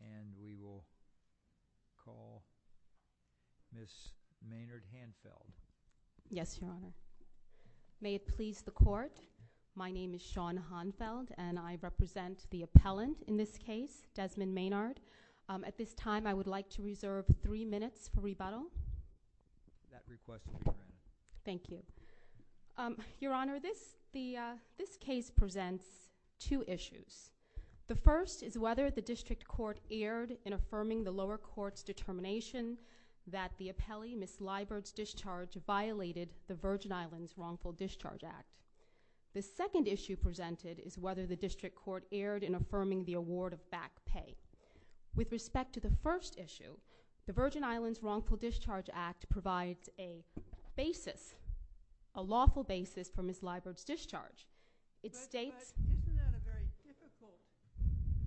And we will call Ms. Maynard Hanfeld. Yes, Your Honor. May it please the Court, my name is Shawn Hanfeld and I represent the appellant in this case, Desmond Maynard. At this time I would like to reserve three minutes for rebuttal. That request is granted. Thank you. Your Honor, this case presents two issues. The first is whether the district court erred in affirming the lower court's determination that the appellee, Ms. Liburd's discharge, violated the Virgin Islands Wrongful Discharge Act. The second issue presented is whether the district court erred in affirming the award of back pay. With respect to the first issue, the Virgin Islands Wrongful Discharge Act provides a basis, a lawful basis for Ms. Liburd's discharge. It states But isn't that a very difficult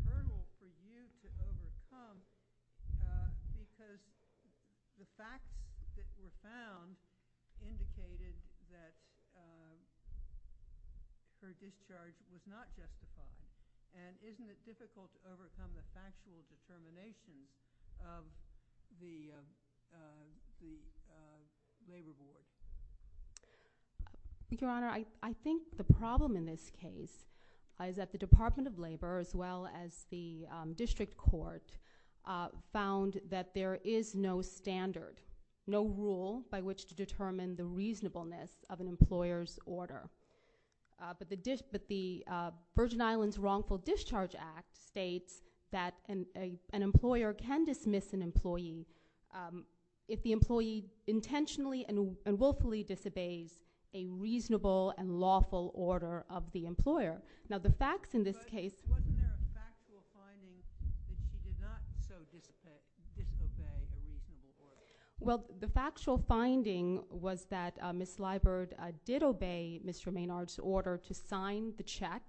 hurdle for you to overcome because the facts that were found indicated that her discharge was not justified? And isn't it difficult to overcome the factual determination of the labor board? Your Honor, I think the problem in this case is that the Department of Labor as well as the district court found that there is no standard, no rule by which to determine the reasonableness of an employer's order. But the Virgin Islands Wrongful Discharge Act states that an employer can dismiss an employee if the employee intentionally and willfully disobeys a reasonable and lawful order of the employer. Now the facts in this case But wasn't there a factual finding that she did not so disobey a reasonable order? Well, the factual finding was that Ms. Liburd did obey Mr. Maynard's order to sign the check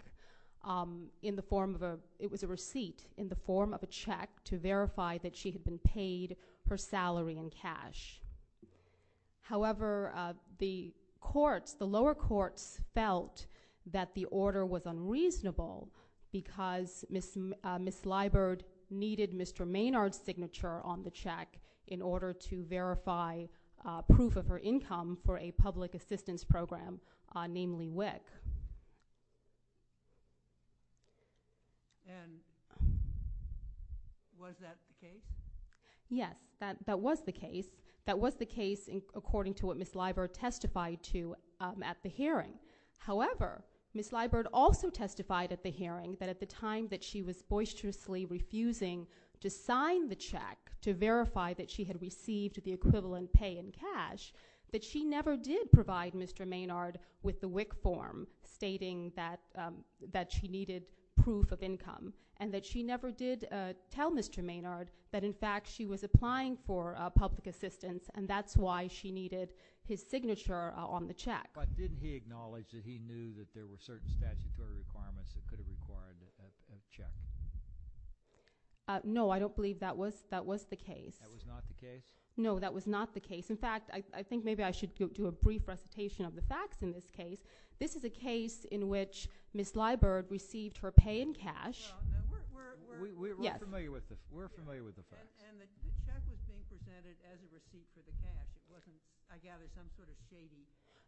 It was a receipt in the form of a check to verify that she had been paid her salary in cash. However, the lower courts felt that the order was unreasonable because Ms. Liburd needed Mr. Maynard's signature on the check in order to verify proof of her income for a public assistance program, namely WIC. And was that the case? Yes, that was the case. That was the case according to what Ms. Liburd testified to at the hearing. However, Ms. Liburd also testified at the hearing that at the time that she was boisterously refusing to sign the check to verify that she had received the equivalent pay in cash that she never did provide Mr. Maynard with the WIC form stating that she needed proof of income and that she never did tell Mr. Maynard that in fact she was applying for public assistance and that's why she needed his signature on the check. But didn't he acknowledge that he knew that there were certain statutory requirements that could have required a check? No, I don't believe that was the case. That was not the case? No, that was not the case. In fact, I think maybe I should do a brief recitation of the facts in this case. This is a case in which Ms. Liburd received her pay in cash. We're familiar with the facts. And the check was being presented as a receipt for the cash. It wasn't, I gather, some sort of skating?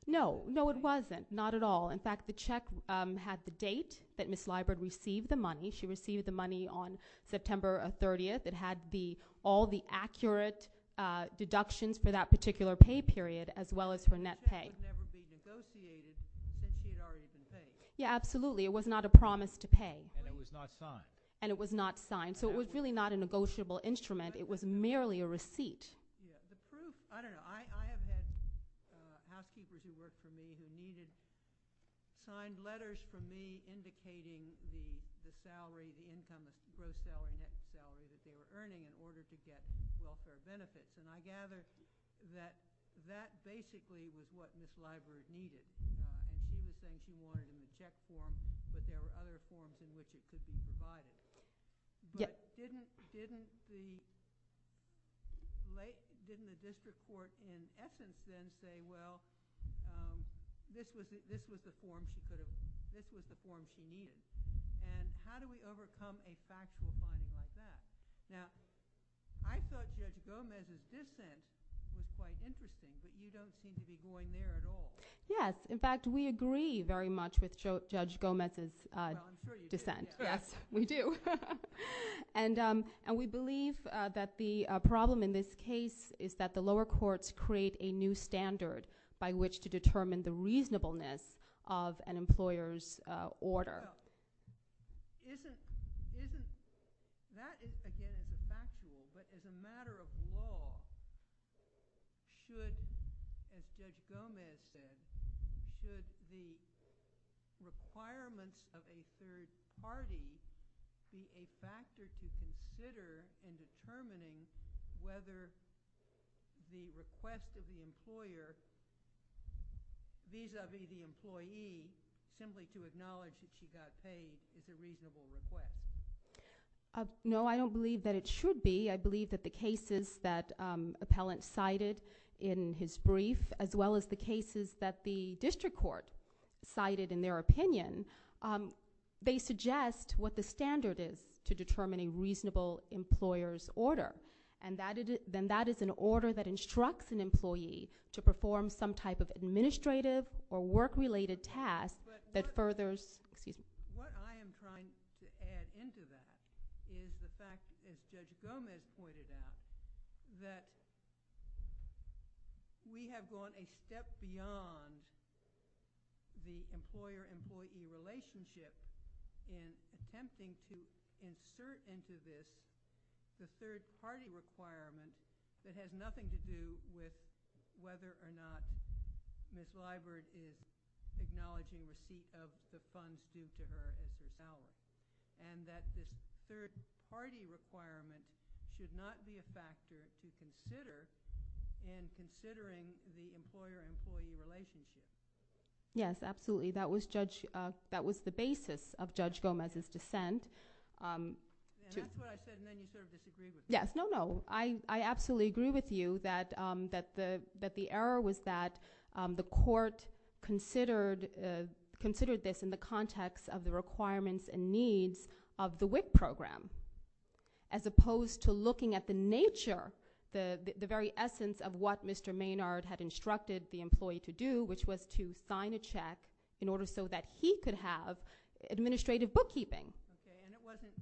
No, no it wasn't, not at all. In fact, the check had the date that Ms. Liburd received the money. She received the money on September 30th. It had all the accurate deductions for that particular pay period as well as her net pay. The check would never be negotiated since she had already been paid. Yeah, absolutely. It was not a promise to pay. And it was not signed. And it was not signed. So it was really not a negotiable instrument. It was merely a receipt. Yeah, the proof, I don't know. I have had housekeepers who worked for me who needed signed letters from me indicating the salary, the income, the gross salary, net salary that they were earning in order to get welfare benefits. And I gather that that basically was what Ms. Liburd needed. And she was saying she wanted a check form, but there were other forms in which it could be provided. But didn't the district court in essence then say, well, this was the form she needed? And how do we overcome a factual finding like that? Now, I thought Judge Gomez's dissent was quite interesting, but you don't seem to be going there at all. Yes. Well, I'm sure you do. Yes, we do. And we believe that the problem in this case is that the lower courts create a new standard by which to determine the reasonableness of an employer's order. Well, isn't that, again, as a factual, but as a matter of law, should, as Judge Gomez said, should the requirements of a third party be a factor to consider in determining whether the request of the employer vis-a-vis the employee, simply to acknowledge that she got paid, is a reasonable request? No, I don't believe that it should be. I believe that the cases that Appellant cited in his brief, as well as the cases that the district court cited in their opinion, they suggest what the standard is to determine a reasonable employer's order. And then that is an order that instructs an employee to perform some type of administrative or work-related task that furthers, excuse me. What I am trying to add into that is the fact, as Judge Gomez pointed out, that we have gone a step beyond the employer-employee relationship in attempting to insert into this the third-party requirement that has nothing to do with whether or not Ms. Liburd is acknowledging receipt of the funds due to her as Appellant. And that this third-party requirement should not be a factor to consider in considering the employer-employee relationship. Yes, absolutely. That was the basis of Judge Gomez's dissent. And that's what I said, and then you sort of disagreed with me. Yes, no, no. I absolutely agree with you that the error was that the court considered this in the context of the requirements and needs of the WIC program, as opposed to looking at the nature, the very essence of what Mr. Maynard had instructed the employee to do, which was to sign a check in order so that he could have administrative bookkeeping. Okay, and it wasn't,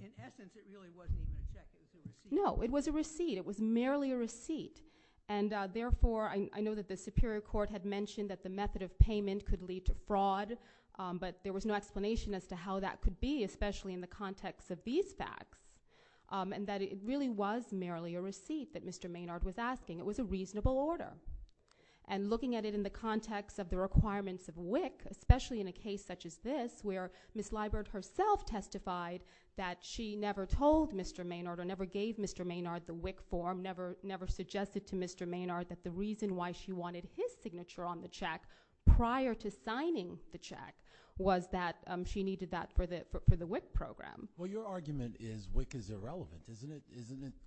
in essence, it really wasn't even a check, it was a receipt. No, it was a receipt. It was merely a receipt. And therefore, I know that the Superior Court had mentioned that the method of payment could lead to fraud, but there was no explanation as to how that could be, especially in the context of these facts, and that it really was merely a receipt that Mr. Maynard was asking. It was a reasonable order. And looking at it in the context of the requirements of WIC, especially in a case such as this where Ms. Liburd herself testified that she never told Mr. Maynard or never gave Mr. Maynard the WIC form, never suggested to Mr. Maynard that the reason why she wanted his signature on the check prior to signing the check was that she needed that for the WIC program. Well, your argument is WIC is irrelevant, isn't it?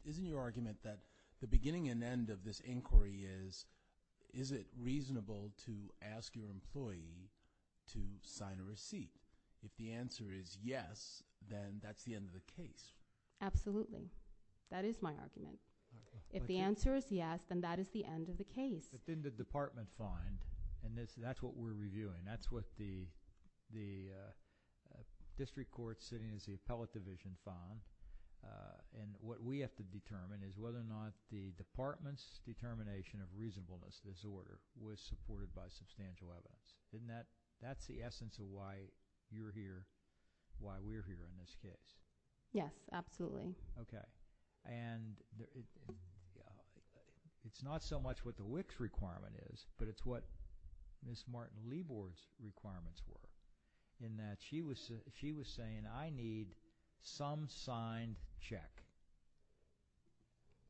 Isn't your argument that the beginning and end of this inquiry is, is it reasonable to ask your employee to sign a receipt? If the answer is yes, then that's the end of the case. Absolutely. That is my argument. If the answer is yes, then that is the end of the case. But then the department fined, and that's what we're reviewing. That's what the district court sitting as the appellate division fined. And what we have to determine is whether or not the department's determination of reasonableness of this order was supported by substantial evidence. That's the essence of why you're here, why we're here in this case. Yes, absolutely. Okay. And it's not so much what the WIC's requirement is, but it's what Ms. Martin-Lebor's requirements were, in that she was saying, I need some signed check.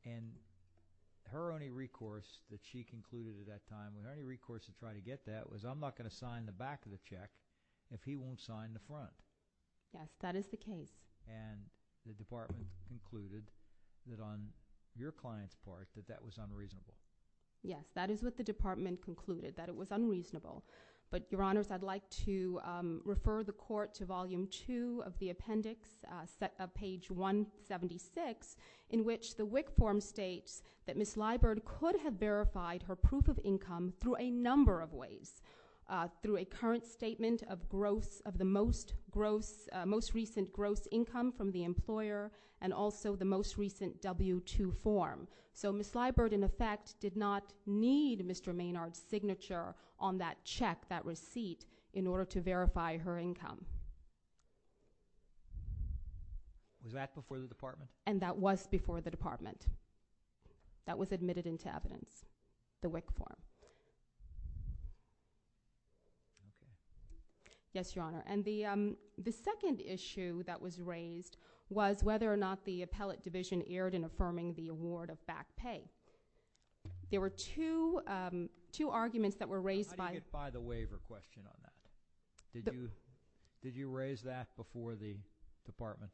And her only recourse that she concluded at that time, her only recourse to try to get that was, I'm not going to sign the back of the check if he won't sign the front. Yes, that is the case. And the department concluded that on your client's part, that that was unreasonable. Yes, that is what the department concluded, that it was unreasonable. But, Your Honors, I'd like to refer the court to Volume 2 of the appendix, page 176, in which the WIC form states that Ms. Liburd could have verified her proof of income through a number of ways, through a current statement of the most recent gross income from the employer and also the most recent W-2 form. So Ms. Liburd, in effect, did not need Mr. Maynard's signature on that check, that receipt, in order to verify her income. Was that before the department? And that was before the department. That was admitted into evidence, the WIC form. Yes, Your Honor. And the second issue that was raised was whether or not the appellate division erred in affirming the award of back pay. There were two arguments that were raised by… How do you get by the waiver question on that? Did you raise that before the department?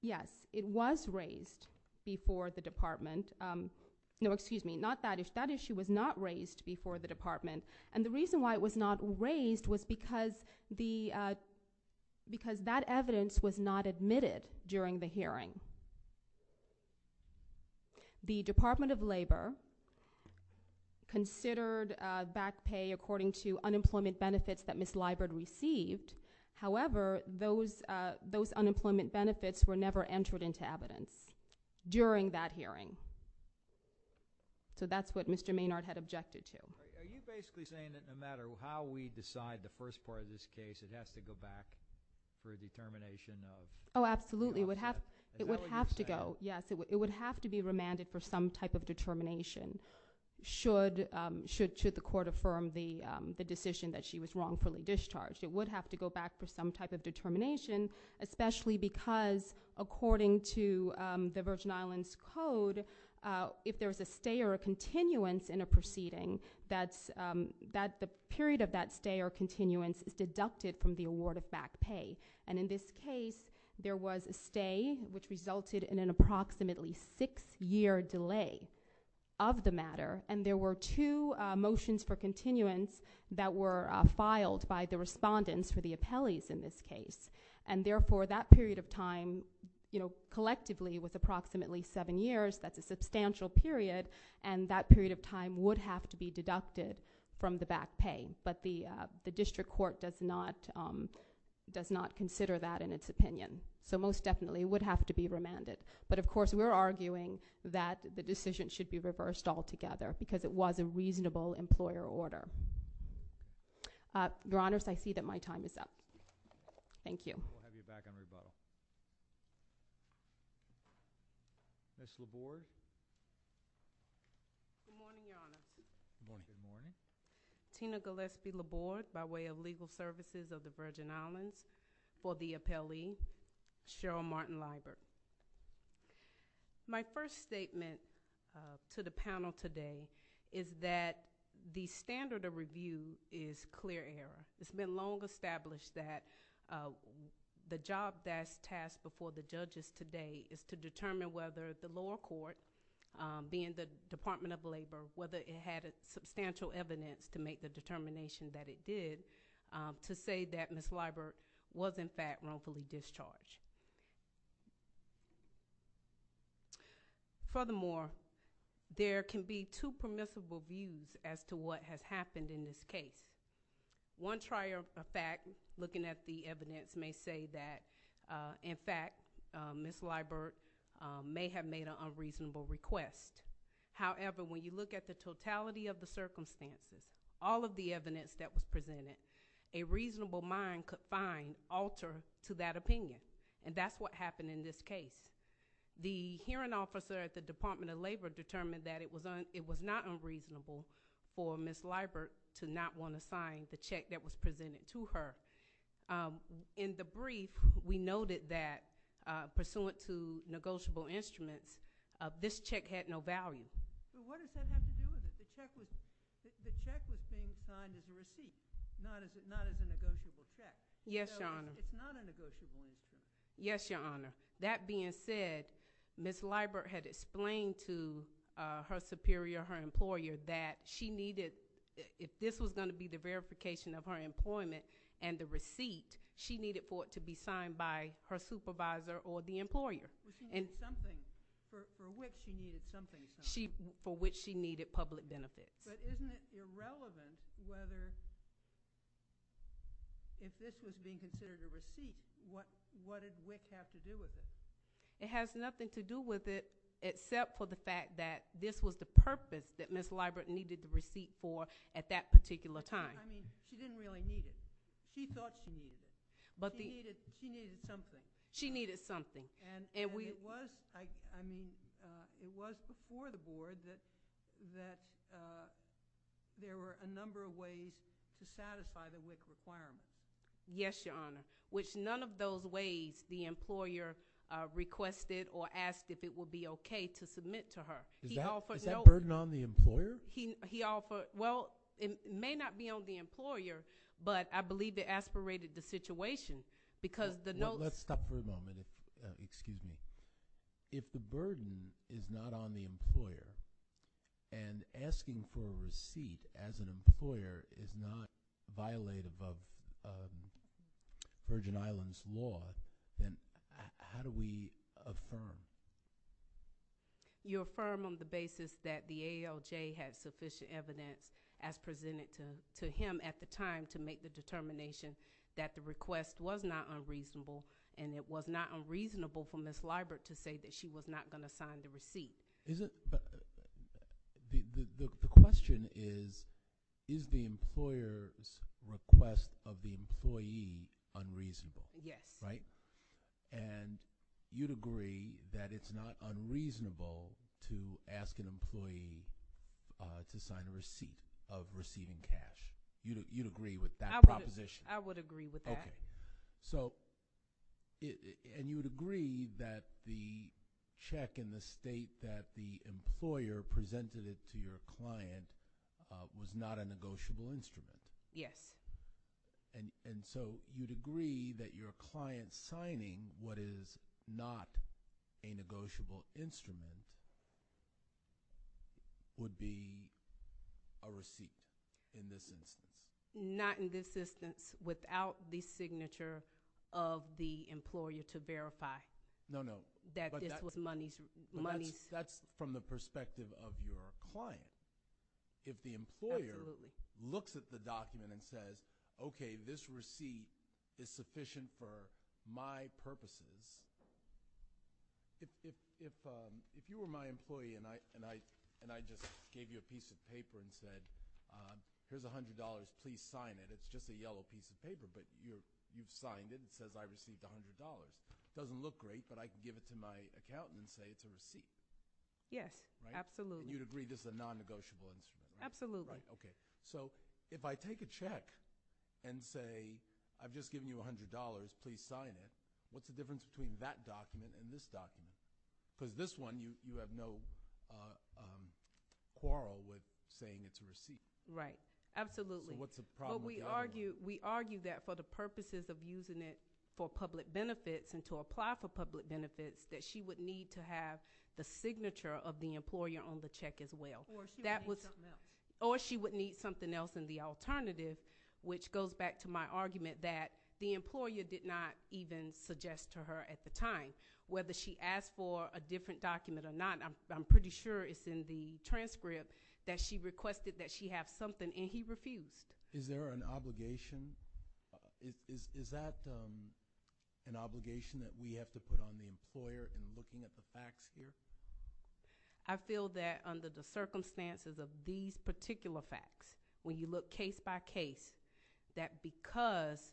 Yes, it was raised before the department. No, excuse me, not that issue. That issue was not raised before the department. And the reason why it was not raised was because that evidence was not admitted during the hearing. The Department of Labor considered back pay according to unemployment benefits that Ms. Liburd received. However, those unemployment benefits were never entered into evidence during that hearing. So that's what Mr. Maynard had objected to. Are you basically saying that no matter how we decide the first part of this case, it has to go back for a determination of… Oh, absolutely, it would have to go. It would have to be remanded for some type of determination should the court affirm the decision that she was wrongfully discharged. It would have to go back for some type of determination, especially because according to the Virgin Islands Code, if there's a stay or a continuance in a proceeding, the period of that stay or continuance is deducted from the award of back pay. And in this case, there was a stay, which resulted in an approximately six-year delay of the matter. And there were two motions for continuance that were filed by the respondents for the appellees in this case. And therefore, that period of time, collectively, with approximately seven years, that's a substantial period, and that period of time would have to be deducted from the back pay. But the district court does not consider that in its opinion. So most definitely, it would have to be remanded. But, of course, we're arguing that the decision should be reversed altogether because it was a reasonable employer order. Your Honors, I see that my time is up. Thank you. We'll have you back on rebuttal. Ms. Laborde? Good morning, Your Honors. Good morning. Tina Gillespie Laborde, by way of Legal Services of the Virgin Islands, for the appellee, Cheryl Martin Liger. My first statement to the panel today is that the standard of review is clear error. It's been long established that the job that's tasked before the judges today is to determine whether the lower court, being the Department of Labor, whether it had substantial evidence to make the determination that it did, to say that Ms. Laborde was, in fact, wrongfully discharged. Furthermore, there can be two permissible views as to what has happened in this case. One trier of fact, looking at the evidence, may say that, in fact, Ms. Laborde may have made an unreasonable request. However, when you look at the totality of the circumstances, all of the evidence that was presented, a reasonable mind could find alter to that opinion, and that's what happened in this case. The hearing officer at the Department of Labor determined that it was not unreasonable for Ms. Laborde to not want to sign the check that was presented to her. In the brief, we noted that, pursuant to negotiable instruments, this check had no value. What does that have to do with it? The check was being signed as a receipt, not as a negotiable check. Yes, Your Honor. It's not a negotiable instrument. Yes, Your Honor. That being said, Ms. Laborde had explained to her superior, her employer, that if this was going to be the verification of her employment and the receipt, she needed for it to be signed by her supervisor or the employer. She needed something. For WIC, she needed something. For which she needed public benefits. But isn't it irrelevant whether, if this was being considered a receipt, what did WIC have to do with it? It has nothing to do with it except for the fact that this was the purpose that Ms. Laborde needed the receipt for at that particular time. I mean, she didn't really need it. She thought she needed it. She needed something. She needed something. And it was before the Board that there were a number of ways to satisfy the WIC requirement. Yes, Your Honor. Which none of those ways the employer requested or asked if it would be okay to submit to her. Is that burden on the employer? Well, it may not be on the employer, but I believe it aspirated the situation. Let's stop for a moment. Excuse me. If the burden is not on the employer and asking for a receipt as an employer is not violative of Virgin Islands law, then how do we affirm? You affirm on the basis that the ALJ had sufficient evidence, as presented to him at the time, to make the determination that the request was not unreasonable, and it was not unreasonable for Ms. Laborde to say that she was not going to sign the receipt. The question is, is the employer's request of the employee unreasonable? Yes. Right? And you'd agree that it's not unreasonable to ask an employee to sign a receipt of receiving cash? You'd agree with that proposition? I would agree with that. Okay. And you would agree that the check in the state that the employer presented it to your client was not a negotiable instrument? Yes. And so you'd agree that your client signing what is not a negotiable instrument would be a receipt in this instance? Not in this instance without the signature of the employer to verify that this was money. That's from the perspective of your client. Absolutely. If the employer looks at the document and says, okay, this receipt is sufficient for my purposes, if you were my employee and I just gave you a piece of paper and said, here's $100. Please sign it. It's just a yellow piece of paper, but you've signed it. It says I received $100. It doesn't look great, but I can give it to my accountant and say it's a receipt. Yes. Absolutely. You'd agree this is a non-negotiable instrument? Absolutely. Right. Okay. So if I take a check and say I've just given you $100. Please sign it. What's the difference between that document and this document? Because this one you have no quarrel with saying it's a receipt. Right. Absolutely. So what's the problem with the other one? We argue that for the purposes of using it for public benefits and to apply for public benefits, that she would need to have the signature of the employer on the check as well. Or she would need something else. And the alternative, which goes back to my argument, that the employer did not even suggest to her at the time whether she asked for a different document or not. I'm pretty sure it's in the transcript that she requested that she have something, and he refused. Is there an obligation? Is that an obligation that we have to put on the employer in looking at the facts here? I feel that under the circumstances of these particular facts, when you look case by case, that because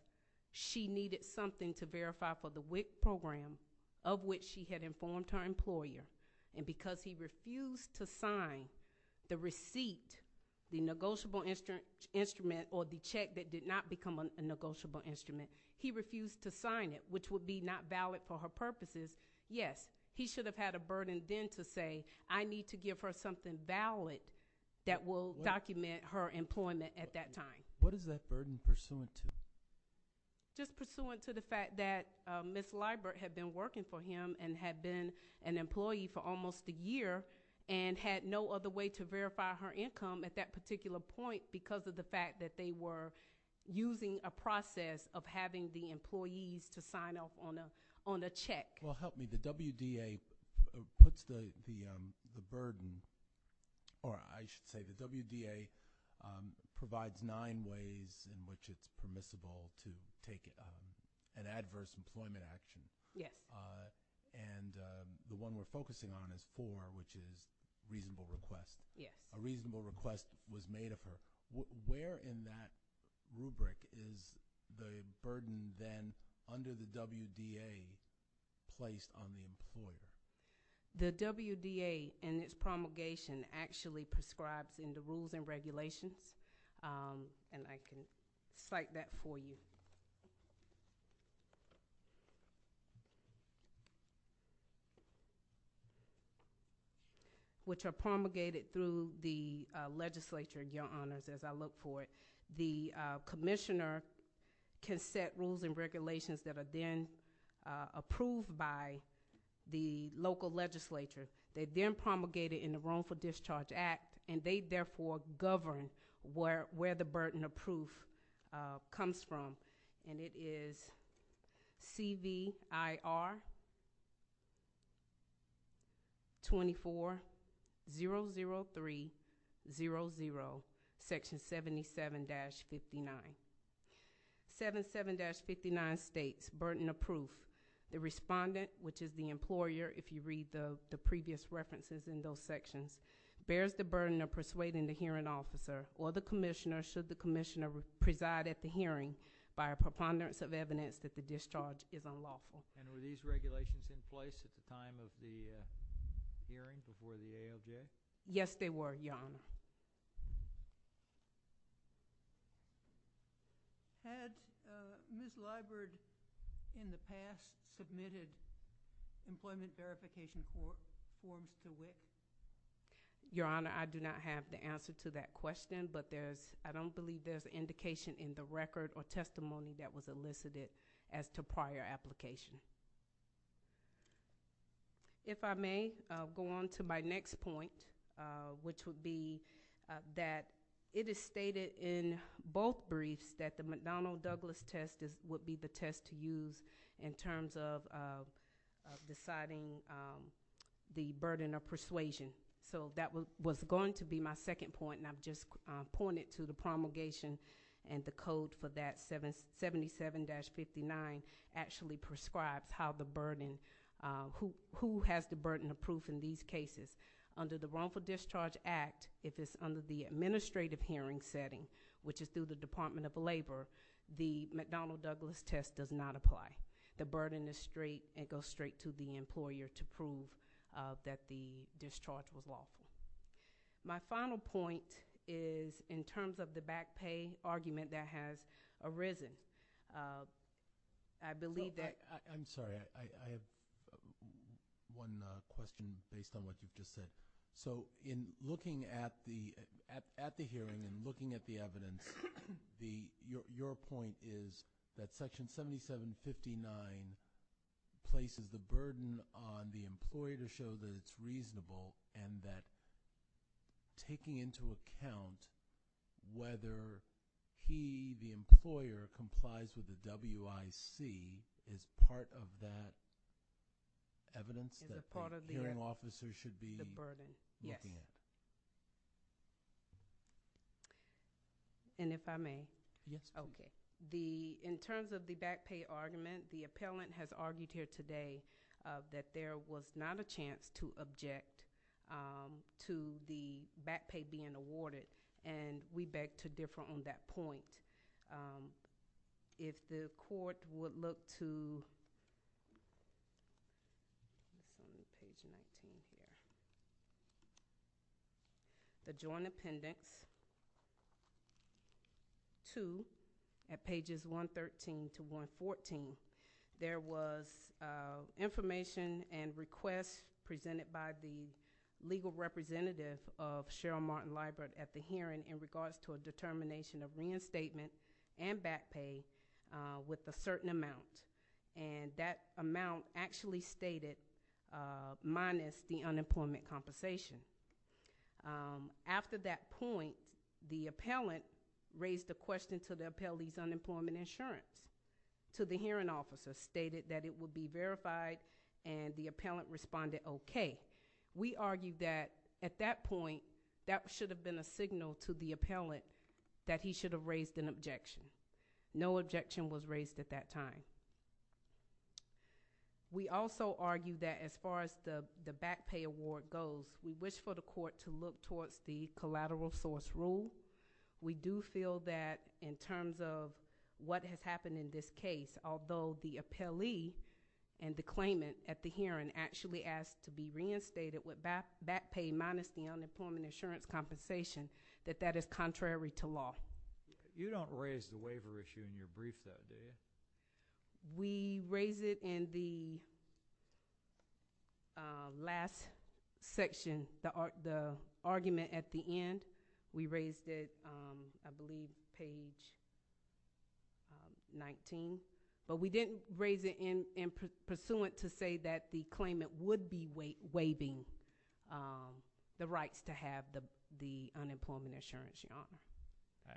she needed something to verify for the WIC program, of which she had informed her employer, and because he refused to sign the receipt, the negotiable instrument, or the check that did not become a negotiable instrument, he refused to sign it, which would be not valid for her purposes. Yes, he should have had a burden then to say, I need to give her something valid that will document her employment at that time. What is that burden pursuant to? Just pursuant to the fact that Ms. Leibert had been working for him and had been an employee for almost a year and had no other way to verify her income at that particular point because of the fact that they were using a process of having the employees to sign off on a check. Well, help me. The WDA puts the burden, or I should say the WDA provides nine ways in which it's permissible to take an adverse employment action. Yes. And the one we're focusing on is four, which is reasonable request. Yes. A reasonable request was made of her. Where in that rubric is the burden then under the WDA placed on the employee? The WDA in its promulgation actually prescribes in the rules and regulations, and I can cite that for you, which are promulgated through the legislature, Your Honors, as I look for it. The commissioner can set rules and regulations that are then approved by the local legislature. They're then promulgated in the Roam for Discharge Act, and they therefore govern where the burden of proof comes from, and it is CVIR 2400300, section 77-59. 77-59 states burden of proof. The respondent, which is the employer, if you read the previous references in those sections, bears the burden of persuading the hearing officer or the commissioner should the commissioner preside at the hearing by a preponderance of evidence that the discharge is unlawful. And were these regulations in place at the time of the hearing before the AOJ? Yes, they were, Your Honor. Had Ms. Liburd in the past submitted employment verification forms to WIC? Your Honor, I do not have the answer to that question, but I don't believe there's indication in the record or testimony that was elicited as to prior application. If I may, I'll go on to my next point, which would be that it is stated in both briefs that the McDonnell-Douglas test would be the test to use in terms of deciding the burden of persuasion. So that was going to be my second point, and I've just pointed to the promulgation and the code for that, 77-59, actually prescribes who has the burden of proof in these cases. Under the Wrongful Discharge Act, if it's under the administrative hearing setting, which is through the Department of Labor, the McDonnell-Douglas test does not apply. The burden goes straight to the employer to prove that the discharge was lawful. My final point is in terms of the back pay argument that has arisen. I believe that— I'm sorry. I have one question based on what you've just said. So in looking at the hearing and looking at the evidence, your point is that Section 77-59 places the burden on the employer to show that it's reasonable and that taking into account whether he, the employer, complies with the WIC is part of that evidence that the hearing officer should be looking at? Yes. And if I may? Yes. Okay. In terms of the back pay argument, the appellant has argued here today that there was not a chance to object to the back pay being awarded, and we beg to differ on that point. If the court would look to the Joint Appendix 2 at pages 113 to 114, there was information and requests presented by the legal representative of Cheryl Martin-Lybert at the hearing in regards to a determination of reinstatement and back pay with a certain amount, and that amount actually stated minus the unemployment compensation. After that point, the appellant raised the question to the appellee's unemployment insurance. To the hearing officer, stated that it would be verified, and the appellant responded okay. We argue that at that point, that should have been a signal to the appellant that he should have raised an objection. No objection was raised at that time. We also argue that as far as the back pay award goes, we wish for the court to look towards the collateral source rule. We do feel that in terms of what has happened in this case, although the appellee and the claimant at the hearing actually asked to be reinstated with back pay minus the unemployment insurance compensation, that that is contrary to law. You don't raise the waiver issue in your brief though, do you? We raised it in the last section, the argument at the end. We raised it, I believe, page 19. But we didn't raise it in pursuant to say that the claimant would be waiving the rights to have the unemployment insurance, Your Honor.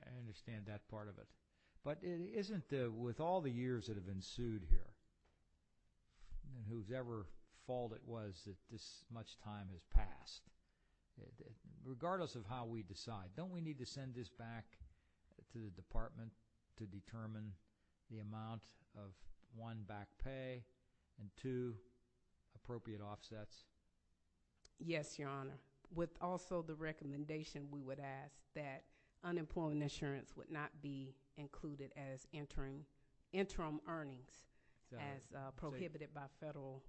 I understand that part of it. But isn't it with all the years that have ensued here, whose ever fault it was that this much time has passed, regardless of how we decide, don't we need to send this back to the department to determine the amount of one, back pay, and two, appropriate offsets? Yes, Your Honor. With also the recommendation, we would ask that unemployment insurance would not be included as interim earnings as prohibited by federal.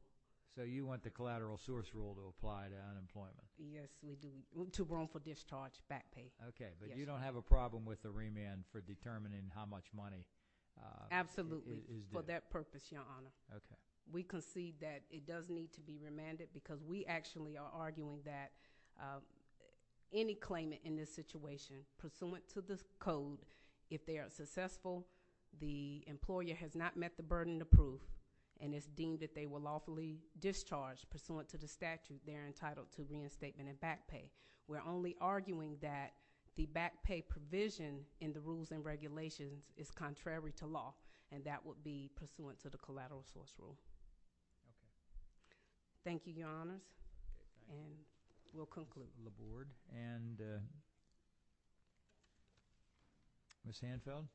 So you want the collateral source rule to apply to unemployment? Yes, we do. To roam for discharge, back pay. Okay. But you don't have a problem with the remand for determining how much money is there? Absolutely, for that purpose, Your Honor. Okay. We concede that it does need to be remanded because we actually are arguing that any claimant in this situation, pursuant to this code, if they are successful, the employer has not met the burden of proof, and it's deemed that they were lawfully discharged pursuant to the statute, they're entitled to reinstatement and back pay. We're only arguing that the back pay provision in the rules and regulations is contrary to law, and that would be pursuant to the collateral source rule. Thank you, Your Honors. And we'll conclude. The Board. And Ms. Hanfield?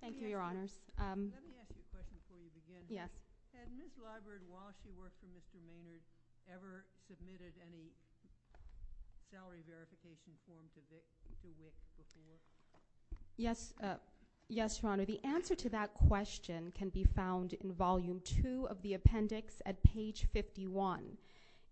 Thank you, Your Honors. Let me ask you a question before we begin. Yes. Had Ms. Liburd, while she worked for Mr. Maynard, ever submitted any salary verification forms to see if she would? Yes. Yes, Your Honor. The answer to that question can be found in Volume 2 of the appendix at page 51,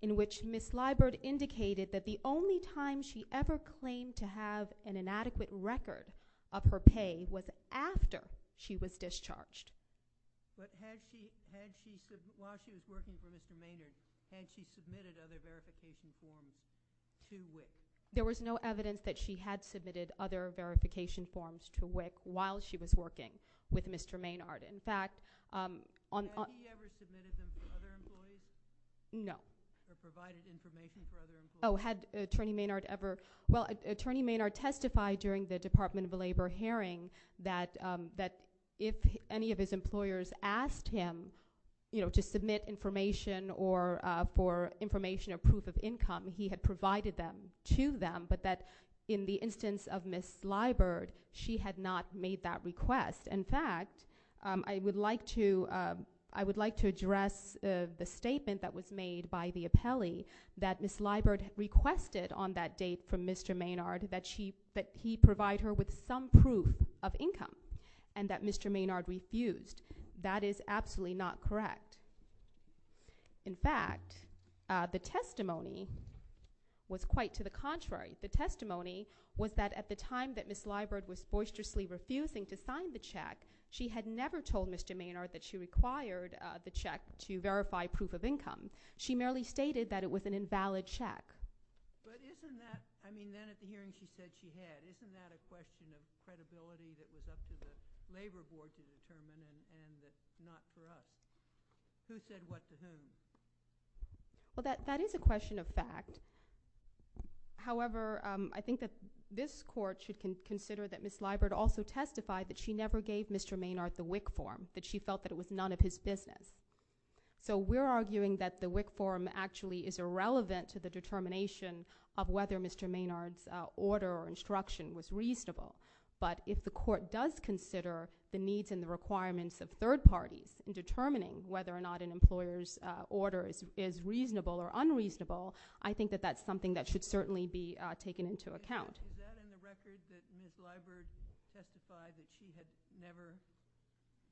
in which Ms. Liburd indicated that the only time she ever claimed to have an inadequate record of her pay was after she was discharged. But had she, while she was working for Mr. Maynard, had she submitted other verification forms to WIC? There was no evidence that she had submitted other verification forms to WIC while she was working with Mr. Maynard. In fact, on – Had he ever submitted them for other employees? No. Or provided information for other employees? Oh, had Attorney Maynard ever – well, Attorney Maynard testified during the Department of Labor hearing that if any of his employers asked him to submit information or for information or proof of income, he had provided them to them, but that in the instance of Ms. Liburd, she had not made that request. In fact, I would like to address the statement that was made by the appellee that Ms. Liburd requested on that date from Mr. Maynard that he provide her with some proof of income and that Mr. Maynard refused. That is absolutely not correct. In fact, the testimony was quite to the contrary. The testimony was that at the time that Ms. Liburd was boisterously refusing to sign the check, she had never told Mr. Maynard that she required the check to verify proof of income. She merely stated that it was an invalid check. But isn't that – I mean, then at the hearing, she said she had. Isn't that a question of credibility that was up to the Labor Board to determine and not for us? Who said what to whom? Well, that is a question of fact. However, I think that this Court should consider that Ms. Liburd also testified that she never gave Mr. Maynard the WIC form, that she felt that it was none of his business. So we're arguing that the WIC form actually is irrelevant to the determination of whether Mr. Maynard's order or instruction was reasonable. But if the Court does consider the needs and the requirements of third parties in determining whether or not an employer's order is reasonable or unreasonable, I think that that's something that should certainly be taken into account. Is that in the record that Ms. Liburd testified that she had never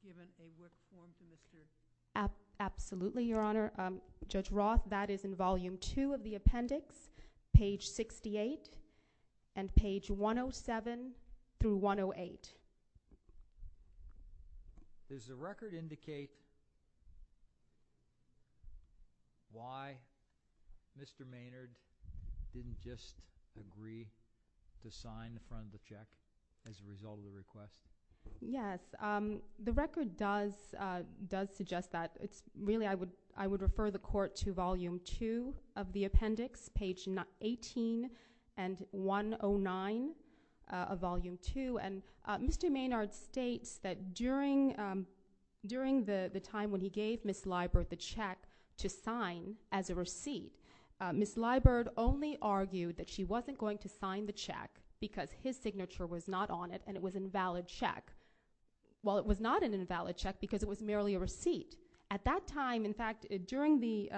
given a WIC form to Mr. Maynard? Absolutely, Your Honor. Judge Roth, that is in Volume 2 of the appendix, page 68 and page 107 through 108. Does the record indicate why Mr. Maynard didn't just agree to sign the front of the check as a result of the request? Yes. The record does suggest that. Really, I would refer the Court to Volume 2 of the appendix, page 18 and 109 of Volume 2. Mr. Maynard states that during the time when he gave Ms. Liburd the check to sign as a receipt, Ms. Liburd only argued that she wasn't going to sign the check because his signature was not on it and it was an invalid check. Well, it was not an invalid check because it was merely a receipt. At that time, in fact, during the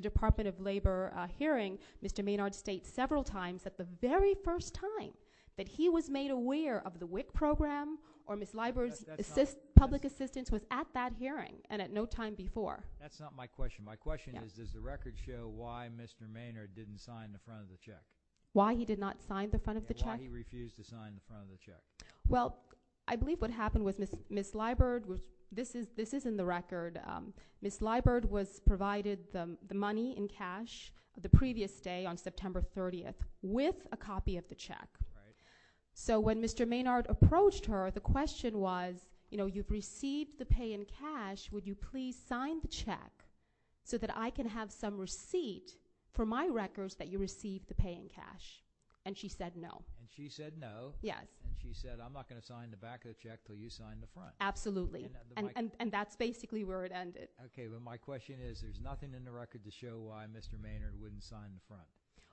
Department of Labor hearing, Mr. Maynard states several times that the very first time that he was made aware of the WIC program or Ms. Liburd's public assistance was at that hearing and at no time before. That's not my question. My question is, does the record show why Mr. Maynard didn't sign the front of the check? Why he did not sign the front of the check? And why he refused to sign the front of the check? Well, I believe what happened was Ms. Liburd – this is in the record – Ms. Liburd was provided the money in cash the previous day on September 30th with a copy of the check. So when Mr. Maynard approached her, the question was, you know, you've received the pay in cash. Would you please sign the check so that I can have some receipt for my records that you received the pay in cash? And she said no. And she said no? Yes. And she said, I'm not going to sign the back of the check until you sign the front. Absolutely. And that's basically where it ended. Okay. But my question is, there's nothing in the record to show why Mr. Maynard wouldn't sign the front.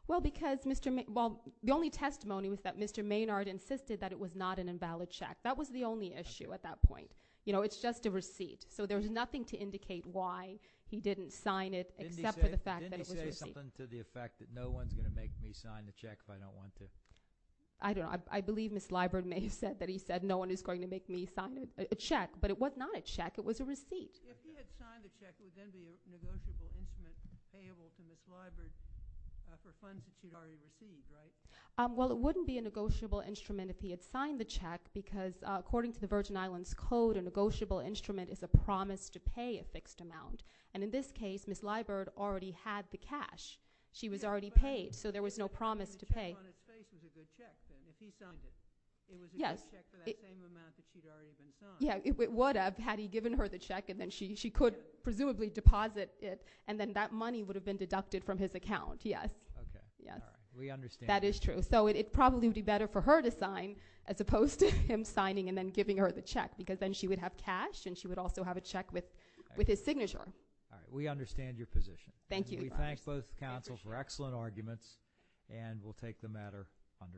Well, because Mr. – well, the only testimony was that Mr. Maynard insisted that it was not an invalid check. That was the only issue at that point. You know, it's just a receipt. So there's nothing to indicate why he didn't sign it except for the fact that it was a receipt. Didn't he say something to the effect that no one's going to make me sign the check if I don't want to? I don't know. I believe Ms. Liburd may have said that he said no one is going to make me sign a check. But it was not a check. It was a receipt. If he had signed the check, it would then be a negotiable instrument payable to Ms. Liburd for funds that she'd already received, right? Well, it wouldn't be a negotiable instrument if he had signed the check because, according to the Virgin Islands Code, a negotiable instrument is a promise to pay a fixed amount. And in this case, Ms. Liburd already had the cash. She was already paid, so there was no promise to pay. So the check on his face is a good check, then, if he signed it. Yes. It was a good check for that same amount that she'd already been signed. Yeah, it would have had he given her the check, and then she could presumably deposit it, and then that money would have been deducted from his account. Yes. Okay. All right. We understand. That is true. So it probably would be better for her to sign as opposed to him signing and then giving her the check because then she would have cash, and she would also have a check with his signature. All right. We understand your position. Thank you. We thank both counsel for excellent arguments, and we'll take the matter under advisement.